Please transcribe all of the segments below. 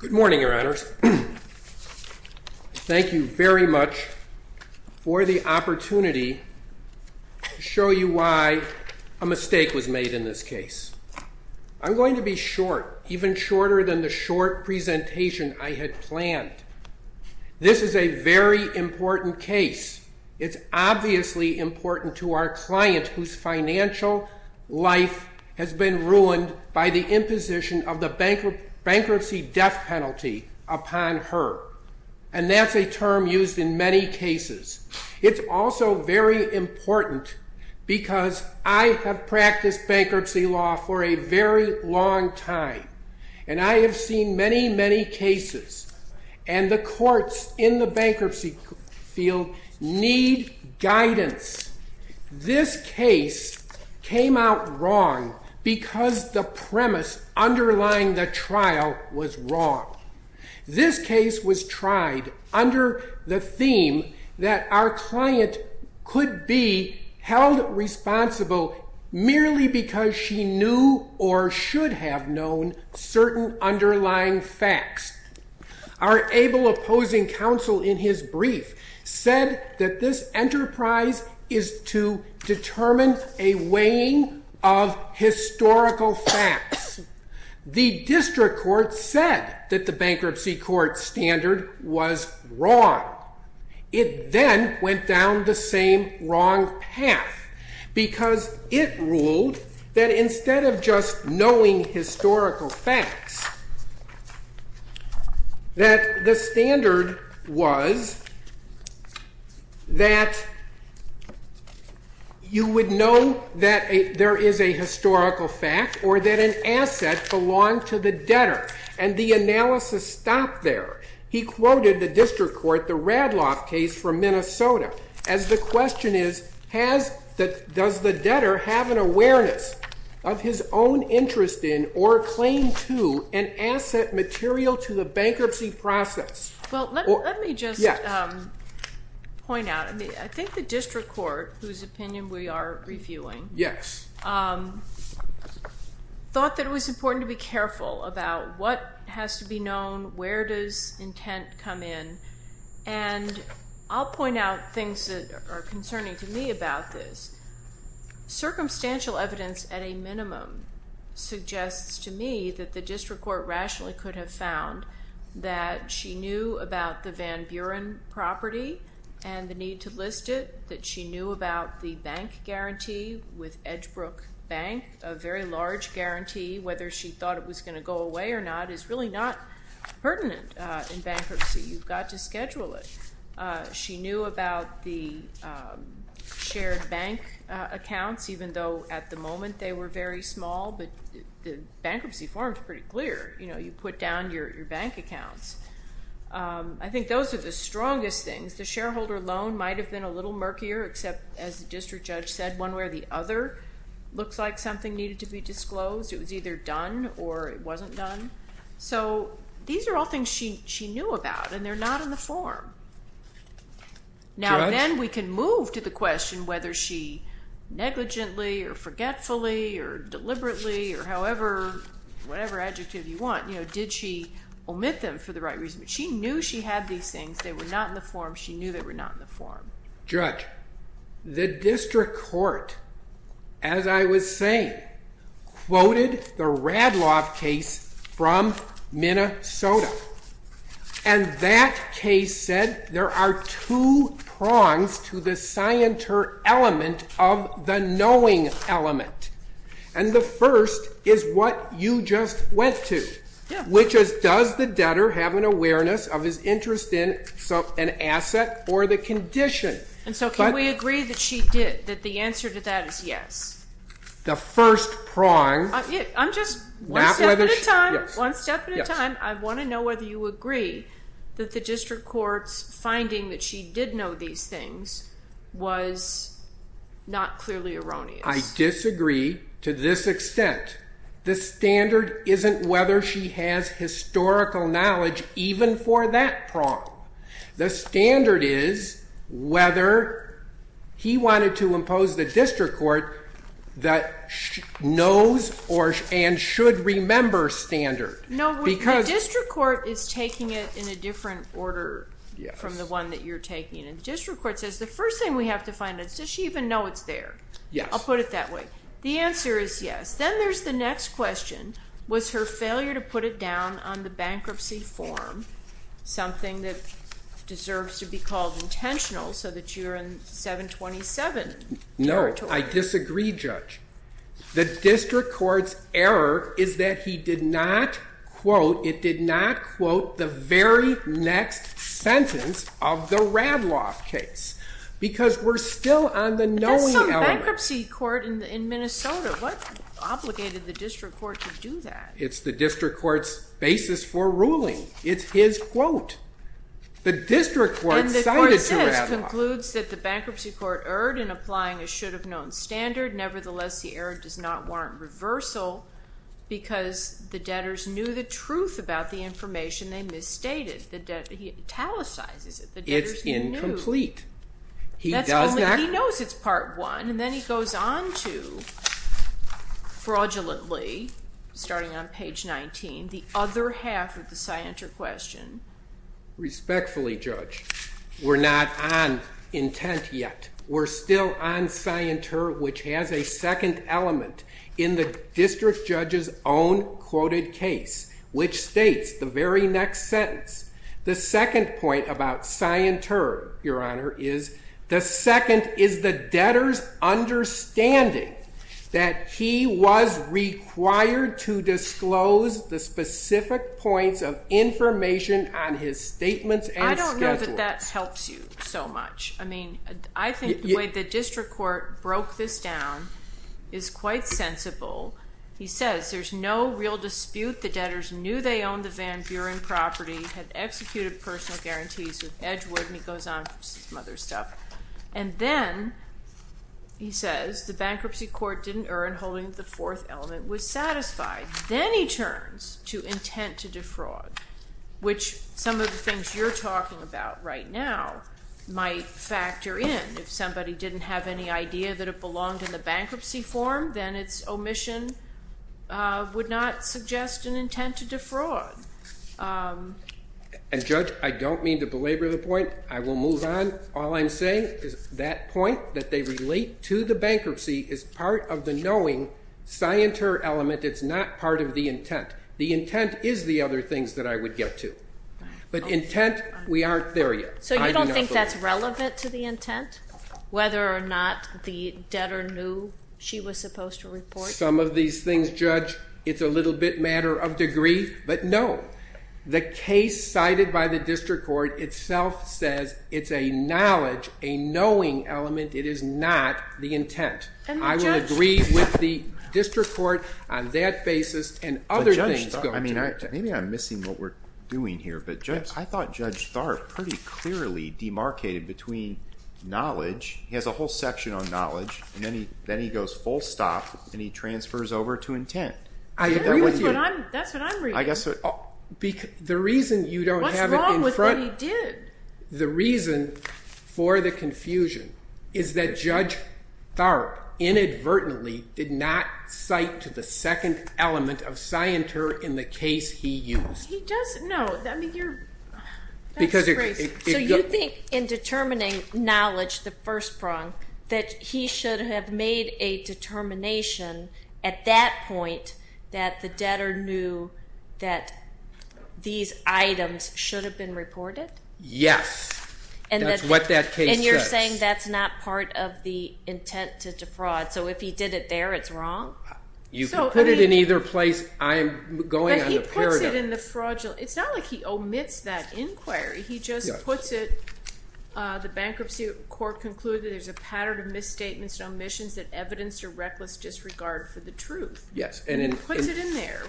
Good morning, Your Honors. Thank you very much for the opportunity to show you why a mistake was made in this case. I'm going to be short, even shorter than the short presentation I had planned. This is a very important case. It's obviously important to our client whose financial life has been ruined by the imposition of the bankruptcy death penalty upon her. And that's a term used in many cases. It's also very important because I have practiced bankruptcy law for a very long time. And I have seen many, many cases. And the courts in the bankruptcy field need guidance. This case came out wrong because the premise underlying the trial was wrong. This case was tried under the theme that our client could be held responsible merely because she knew or should have known certain underlying facts. Our able opposing counsel in his brief said that this enterprise is to determine a weighing of historical facts. The district court said that the bankruptcy court standard was wrong. It then went down the same wrong path because it ruled that instead of just knowing historical facts, that the standard was that you would know that there is a historical fact or that an asset belonged to the debtor. And the analysis stopped there. He quoted the district court, the Radloff case from Minnesota, as the question is, does the debtor have an awareness of his own interest in or claim to an asset material to the bankruptcy process? Well, let me just point out. I think the district court, whose opinion we are reviewing, thought that it was important to be careful about what has to be known, where does intent come in. And I'll point out things that are concerning to me about this. Circumstantial evidence at a minimum suggests to me that the district court rationally could have found that she knew about the Van Buren property and the need to list it, that she knew about the bank guarantee with Edgebrook Bank, a very large guarantee. Whether she thought it was going to go away or not is really not pertinent in bankruptcy. You've got to schedule it. She knew about the shared bank accounts, even though at the moment they were very small, but the bankruptcy form is pretty clear. You put down your bank accounts. I think those are the strongest things. The shareholder loan might have been a little murkier, except, as the district judge said, one where the other looks like something needed to be disclosed. It was either done or it wasn't done. So these are all things she knew about and they're not in the form. Now then we can move to the question whether she negligently or forgetfully or deliberately or however, whatever adjective you want, you know, did she omit them for the right reason? She knew she had these things. They were not in the form. She knew they were not in the form. Judge, the district court, as I was saying, quoted the Radloff case from Minnesota. And that case said there are two prongs to the scienter element of the knowing element. And the first is what you just went to, which is does the debtor have an awareness of his interest in an asset or the condition? And so can we agree that she did, that the answer to that is yes? The first prong. I'm just, one step at a time, one step at a time, I want to know whether you agree that the district court's finding that she did know these things was not clearly erroneous. I disagree to this extent. The standard isn't whether she has historical knowledge even for that prong. The standard is whether he wanted to impose the district court that knows and should remember standard. No, the district court is taking it in a different order from the one that you're taking. And the district court says the first thing we have to find is does she even know it's there? Yes. I'll put it that way. The answer is yes. Then there's the next question. Was her failure to put it down on the bankruptcy form something that deserves to be called intentional so that you're in 727 territory? No. I disagree, Judge. The district court's error is that he did not quote, it did not quote the very next sentence of the Radloff case. Because we're still on the knowing element. The bankruptcy court in Minnesota, what obligated the district court to do that? It's the district court's basis for ruling. It's his quote. The district court cited to Radloff. And the court says, concludes that the bankruptcy court erred in applying a should have known standard. Nevertheless, the error does not warrant reversal because the debtors knew the truth about the information they misstated. The debtor, he italicizes it. The debtors knew. It's incomplete. He doesn't act. He knows it's part one. And then he goes on to fraudulently, starting on page 19, the other half of the Scienter question. Respectfully, Judge, we're not on intent yet. We're still on Scienter, which has a second element in the district judge's own quoted case, which states the very next sentence. The second point about Scienter, Your Honor, is the second is the debtor's understanding that he was required to disclose the specific points of information on his statements and schedules. I don't know that that helps you so much. I mean, I think the way the district court broke this down is quite sensible. He says, there's no real dispute. The debtors knew they owned the Van Buren property, had executed personal guarantees with Edgewood, and he goes on from some other stuff. And then he says, the bankruptcy court didn't earn, holding the fourth element was satisfied. Then he turns to intent to defraud, which some of the things you're talking about right now might factor in. If somebody didn't have any idea that it belonged in the bankruptcy form, then its omission would not suggest an intent to defraud. And Judge, I don't mean to belabor the point. I will move on. All I'm saying is that point, that they relate to the bankruptcy, is part of the knowing Scienter element. It's not part of the intent. The intent is the other things that I would get to. But intent, we aren't there yet. So you don't think that's relevant to the intent, whether or not the debtor knew she was supposed to report? Some of these things, Judge, it's a little bit matter of degree. But no. The case cited by the district court itself says it's a knowledge, a knowing element. It is not the intent. I would agree with the district court on that basis. And other things go into it. Maybe I'm missing what we're doing here. But I thought Judge Tharp pretty clearly demarcated between knowledge. He has a whole section on knowledge. And then he goes full stop. And he transfers over to intent. I agree with what I'm, that's what I'm reading. The reason you don't have it in front. What's wrong with what he did? The reason for the confusion is that Judge Tharp inadvertently did not cite to the second element of Scienter in the case he used. He does, no, I mean, you're, that's crazy. So you think in determining knowledge, the first prong, that he should have made a determination at that point that the debtor knew that these items should have been reported? Yes. And that's what that case says. And you're saying that's not part of the intent to defraud. So if he did it there, it's wrong? You can put it in either place. I'm going on a paradigm. But he puts it in the fraudulent. It's not like he omits that inquiry. He just puts it, the bankruptcy court concluded there's a pattern of misstatements and omissions that evidence a reckless disregard for the truth. Yes. And he puts it in there.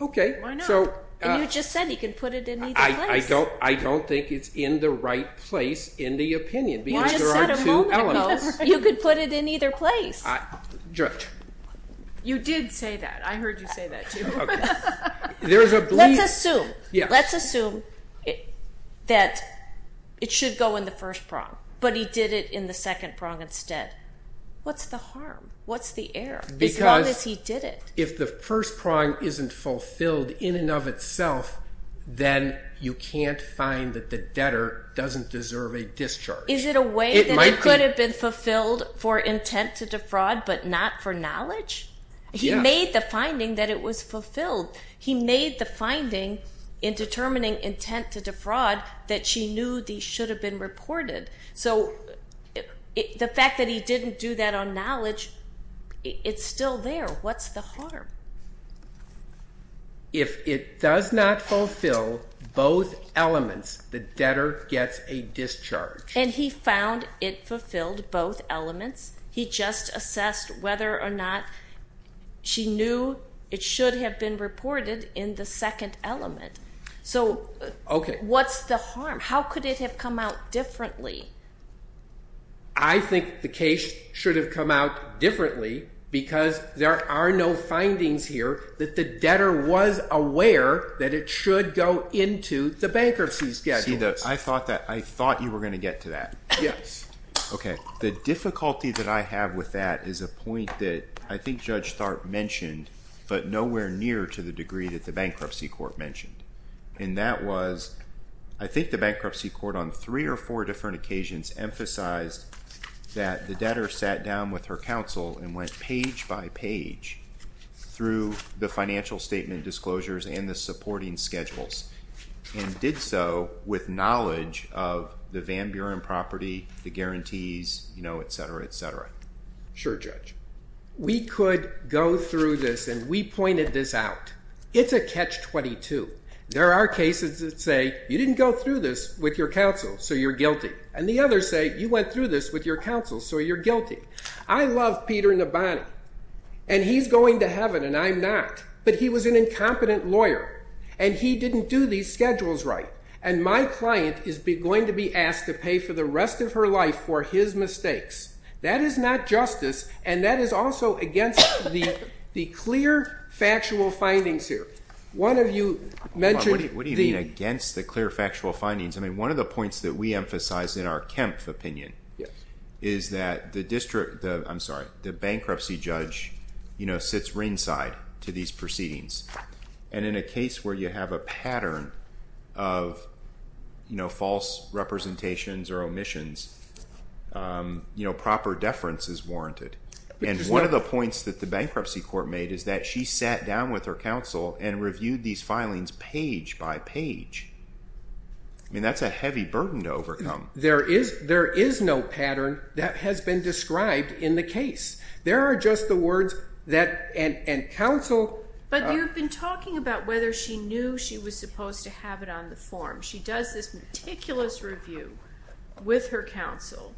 OK. Why not? And you just said he can put it in either place. I don't think it's in the right place in the opinion. Because there are two elements. You could put it in either place. You did say that. I heard you say that too. Let's assume. Let's assume that it should go in the first prong. But he did it in the second prong instead. What's the harm? What's the error, as long as he did it? If the first prong isn't fulfilled in and of itself, then you can't find that the debtor doesn't deserve a discharge. Is it a way that it could have been fulfilled for intent to defraud, but not for knowledge? He made the finding that it was fulfilled. He made the finding in determining intent to defraud that she knew these should have been reported. So the fact that he didn't do that on knowledge, it's still there. What's the harm? If it does not fulfill both elements, the debtor gets a discharge. And he found it fulfilled both elements. He just assessed whether or not she knew it should have been reported in the second element. So what's the harm? How could it have come out differently? I think the case should have come out differently because there are no findings here that the debtor was aware that it should go into the bankruptcy schedule. I thought you were going to get to that. Yes. OK, the difficulty that I have with that is a point that I think Judge Tharp mentioned, but nowhere near to the degree that the bankruptcy court mentioned. And that was, I think the bankruptcy court on three or four different occasions emphasized that the debtor sat down with her counsel and went page by page through the financial statement disclosures and the supporting schedules, and did so with knowledge of the Van Buren property, the guarantees, et cetera, et cetera. Sure, Judge. We could go through this, and we pointed this out. It's a catch-22. There are cases that say, you didn't go through this with your counsel, so you're guilty. And the others say, you went through this with your counsel, so you're guilty. I love Peter Nabhani, and he's going to heaven, and I'm not. But he was an incompetent lawyer, and he didn't do these schedules right. And my client is going to be asked to pay for the rest of her life for his mistakes. That is not justice, and that is also against the clear, factual findings here. One of you mentioned the- What do you mean against the clear, factual findings? One of the points that we emphasize in our Kempf opinion is that the bankruptcy judge sits ringside to these proceedings. And in a case where you have a pattern of false representations or omissions, you know, proper deference is warranted. And one of the points that the bankruptcy court made is that she sat down with her counsel and reviewed these filings page by page. I mean, that's a heavy burden to overcome. There is no pattern that has been described in the case. There are just the words that, and counsel- But you've been talking about whether she knew she was supposed to have it on the form. She does this meticulous review with her counsel.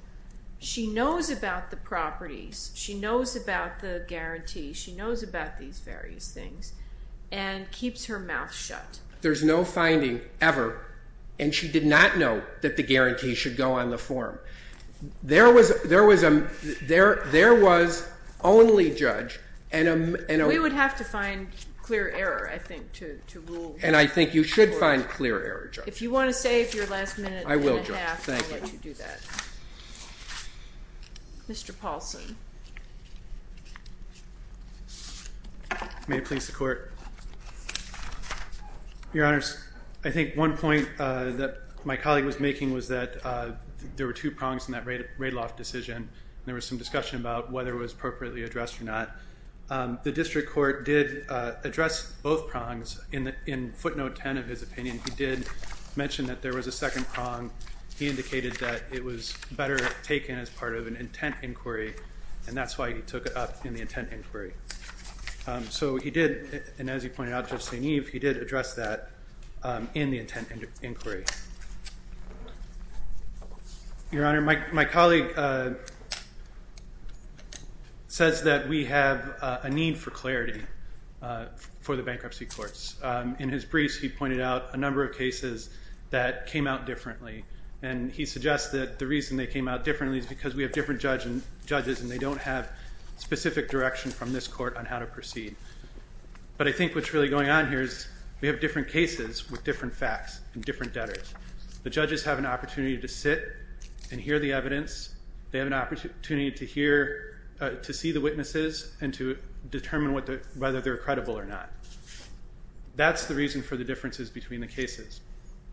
She knows about the properties. She knows about the guarantee. She knows about these various things and keeps her mouth shut. There's no finding ever, and she did not know that the guarantee should go on the form. There was only judge and a- We would have to find clear error, I think, to rule. And I think you should find clear error, Judge. If you want to save your last minute and a half, I will let you do that. Mr. Paulson. May it please the Court. Your Honors, I think one point that my colleague was making was that there were two prongs in that Radloff decision. There was some discussion about whether it was appropriately addressed or not. The district court did address both prongs. In footnote 10 of his opinion, he did mention that there was a second prong. He indicated that it was better taken as part of an intent inquiry, and that's why he took it up in the intent inquiry. So he did, and as he pointed out, Judge St. Eve, he did address that in the intent inquiry. Your Honor, my colleague says that we have a need for clarity for the bankruptcy courts. In his briefs, he pointed out a number of cases that came out differently. And he suggests that the reason they came out differently is because we have different judges, and they don't have specific direction from this court on how to proceed. But I think what's really going on here is we have different cases with different facts and different debtors. The judges have an opportunity to sit and hear the evidence. They have an opportunity to see the witnesses and to determine whether they're credible or not. That's the reason for the differences between the cases.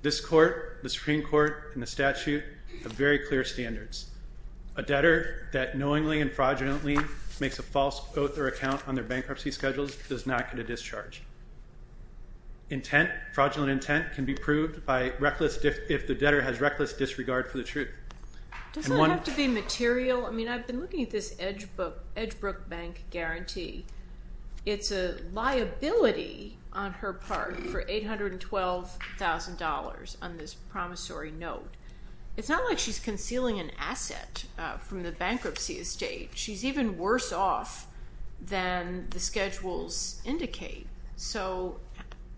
This court, the Supreme Court, and the statute have very clear standards. A debtor that knowingly and fraudulently makes a false oath or account on their bankruptcy schedules does not get a discharge. Fraudulent intent can be proved if the debtor has reckless disregard for the truth. Does that have to be material? I mean, I've been looking at this Edgebrook bank guarantee. It's a liability on her part for $812,000 on this promissory note. It's not like she's concealing an asset from the bankruptcy estate. She's even worse off than the schedules indicate. So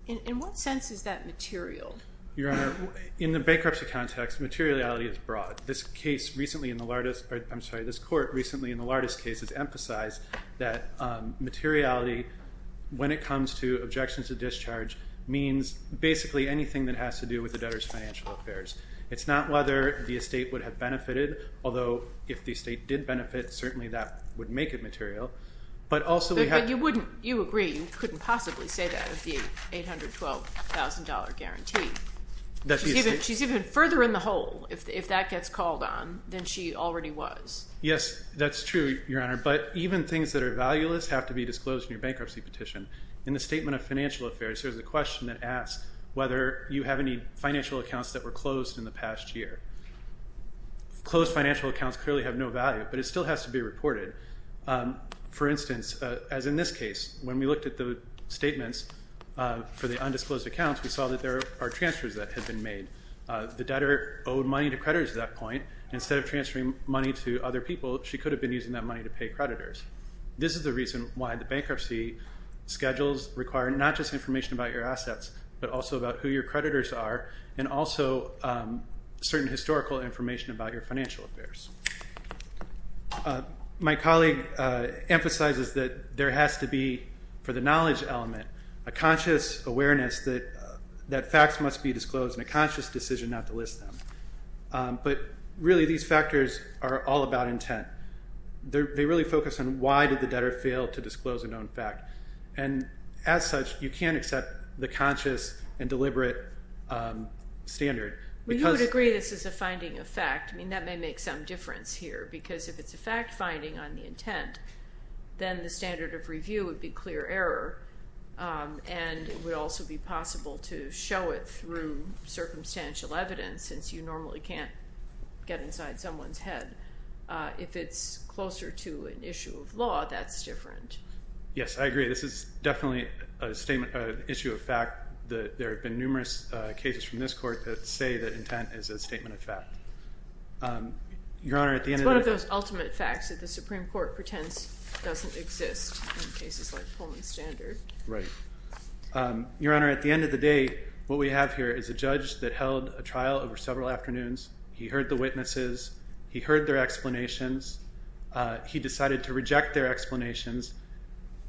in what sense is that material? Your Honor, in the bankruptcy context, materiality is broad. This case recently in the largest, or I'm sorry, this court recently in the largest case has emphasized that materiality, when it comes to objections to discharge, means basically anything that has to do with the debtor's financial affairs. It's not whether the estate would have benefited. Although, if the estate did benefit, certainly that would make it material. But also we have- But you wouldn't, you agree, you couldn't possibly say that with the $812,000 guarantee. She's even further in the hole if that gets called on than she already was. Yes, that's true, Your Honor. But even things that are valueless have to be disclosed in your bankruptcy petition. In the statement of financial affairs, there's a question that asks whether you have any financial accounts that were closed in the past year. Closed financial accounts clearly have no value, but it still has to be reported. For instance, as in this case, when we looked at the statements for the undisclosed accounts, we saw that there are transfers that had been made. The debtor owed money to creditors at that point. Instead of transferring money to other people, she could have been using that money to pay creditors. This is the reason why the bankruptcy schedules require not just information about your assets, but also about who your creditors are, and also certain historical information about your financial affairs. My colleague emphasizes that there has to be, for the knowledge element, a conscious awareness that facts must be disclosed, and a conscious decision not to list them. But really, these factors are all about intent. They really focus on why did the debtor fail to disclose a known fact. And as such, you can't accept the conscious and deliberate standard. Well, you would agree this is a finding of fact. I mean, that may make some difference here. Because if it's a fact finding on the intent, then the standard of review would be clear error. And it would also be possible to show it through circumstantial evidence, since you normally can't get inside someone's head. If it's closer to an issue of law, that's different. Yes, I agree. This is definitely an issue of fact. There have been numerous cases from this court that say that intent is a statement of fact. Your Honor, at the end of the day, It's one of those ultimate facts that the Supreme Court pretends doesn't exist in cases like Pullman's standard. Right. Your Honor, at the end of the day, what we have here is a judge that held a trial over several afternoons. He heard the witnesses. He heard their explanations. He decided to reject their explanations.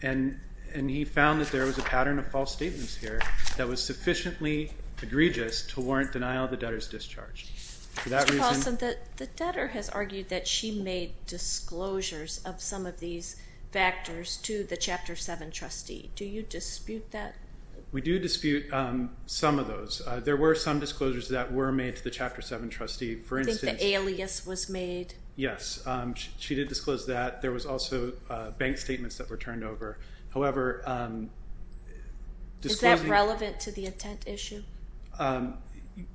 And he found that there was a pattern of false statements here that was sufficiently egregious to warrant denial of the debtor's discharge. For that reason, The debtor has argued that she made disclosures of some of these factors to the Chapter 7 trustee. Do you dispute that? We do dispute some of those. There were some disclosures that were made to the Chapter 7 trustee. For instance, You think the alias was made? Yes, she did disclose that. There was also bank statements that were turned over. However, Is that relevant to the intent issue?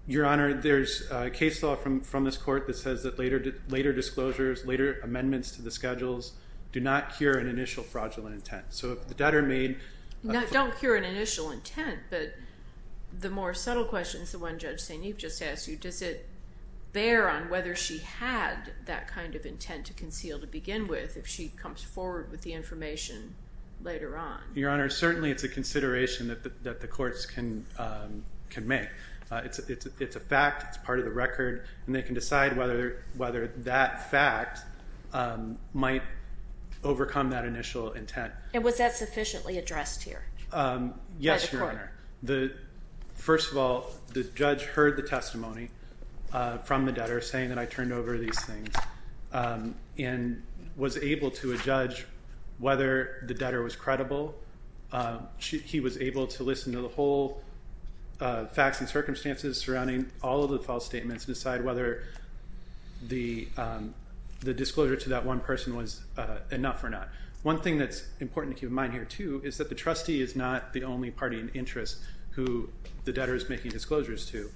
Your Honor, there's a case law from this court that says that later disclosures, later amendments to the schedules, do not cure an initial fraudulent intent. So if the debtor made... Don't cure an initial intent, but the more subtle questions, the one Judge St. Eve just asked you, does it bear on whether she had that kind of intent to conceal to begin with, if she comes forward with the information later on? Your Honor, certainly it's a consideration that the courts can make. It's a fact, it's part of the record, and they can decide whether that fact might overcome that initial intent. And was that sufficiently addressed here? Yes, Your Honor. First of all, the judge heard the testimony from the debtor saying that I turned over these things and was able to adjudge whether the debtor was credible. He was able to listen to the whole facts and circumstances surrounding all of the false statements and decide whether the disclosure to that one person was enough or not. One thing that's important to keep in mind here too is that the trustee is not the only party in interest who the debtor is making disclosures to.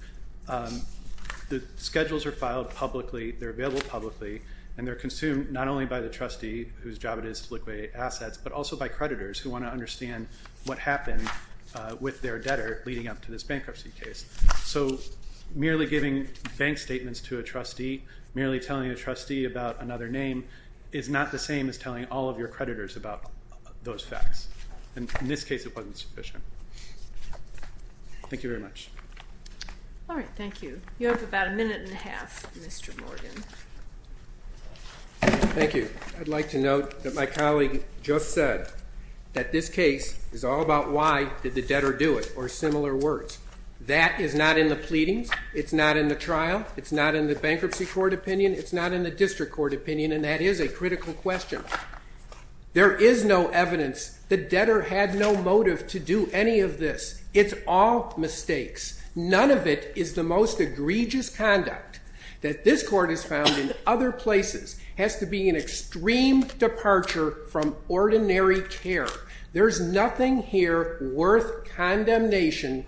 The schedules are filed publicly, they're available publicly, and they're consumed not only by the trustee whose job it is to liquidate assets, but also by creditors who want to understand what happened with their debtor leading up to this bankruptcy case. So merely giving bank statements to a trustee, merely telling a trustee about another name is not the same as telling all of your creditors about those facts. And in this case, it wasn't sufficient. Thank you very much. All right, thank you. You have about a minute and a half, Mr. Morgan. Thank you. I'd like to note that my colleague just said that this case is all about why did the debtor do it, or similar words. That is not in the pleadings, it's not in the trial, it's not in the bankruptcy court opinion, it's not in the district court opinion, and that is a critical question. There is no evidence the debtor had no motive to do any of this. It's all mistakes. None of it is the most egregious conduct that this court has found in other places. Has to be an extreme departure from ordinary care. There's nothing here worth condemnation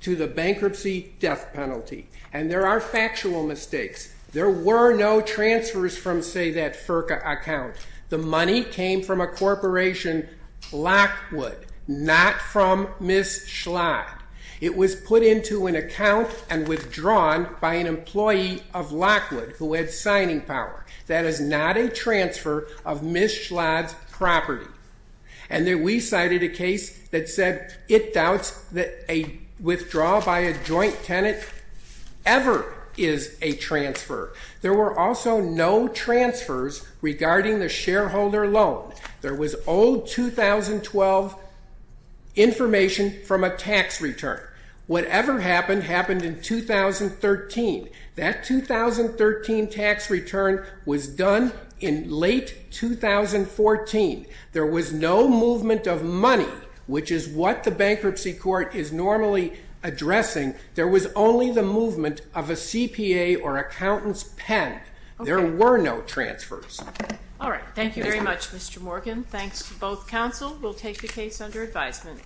to the bankruptcy death penalty. And there are factual mistakes. There were no transfers from, say, that FERCA account. The money came from a corporation, Lockwood, not from Ms. Schlott. It was put into an account and withdrawn by an employee of Lockwood who had signing power. That is not a transfer of Ms. Schlott's property. And then we cited a case that said it doubts that a withdrawal by a joint tenant ever is a transfer. There were also no transfers regarding the shareholder loan. There was old 2012 information from a tax return. Whatever happened, happened in 2013. That 2013 tax return was done in late 2014. There was no movement of money, which is what the bankruptcy court is normally addressing. There was only the movement of a CPA or accountant's pen. There were no transfers. All right, thank you very much, Mr. Morgan. Thanks to both counsel. We'll take the case under advisement.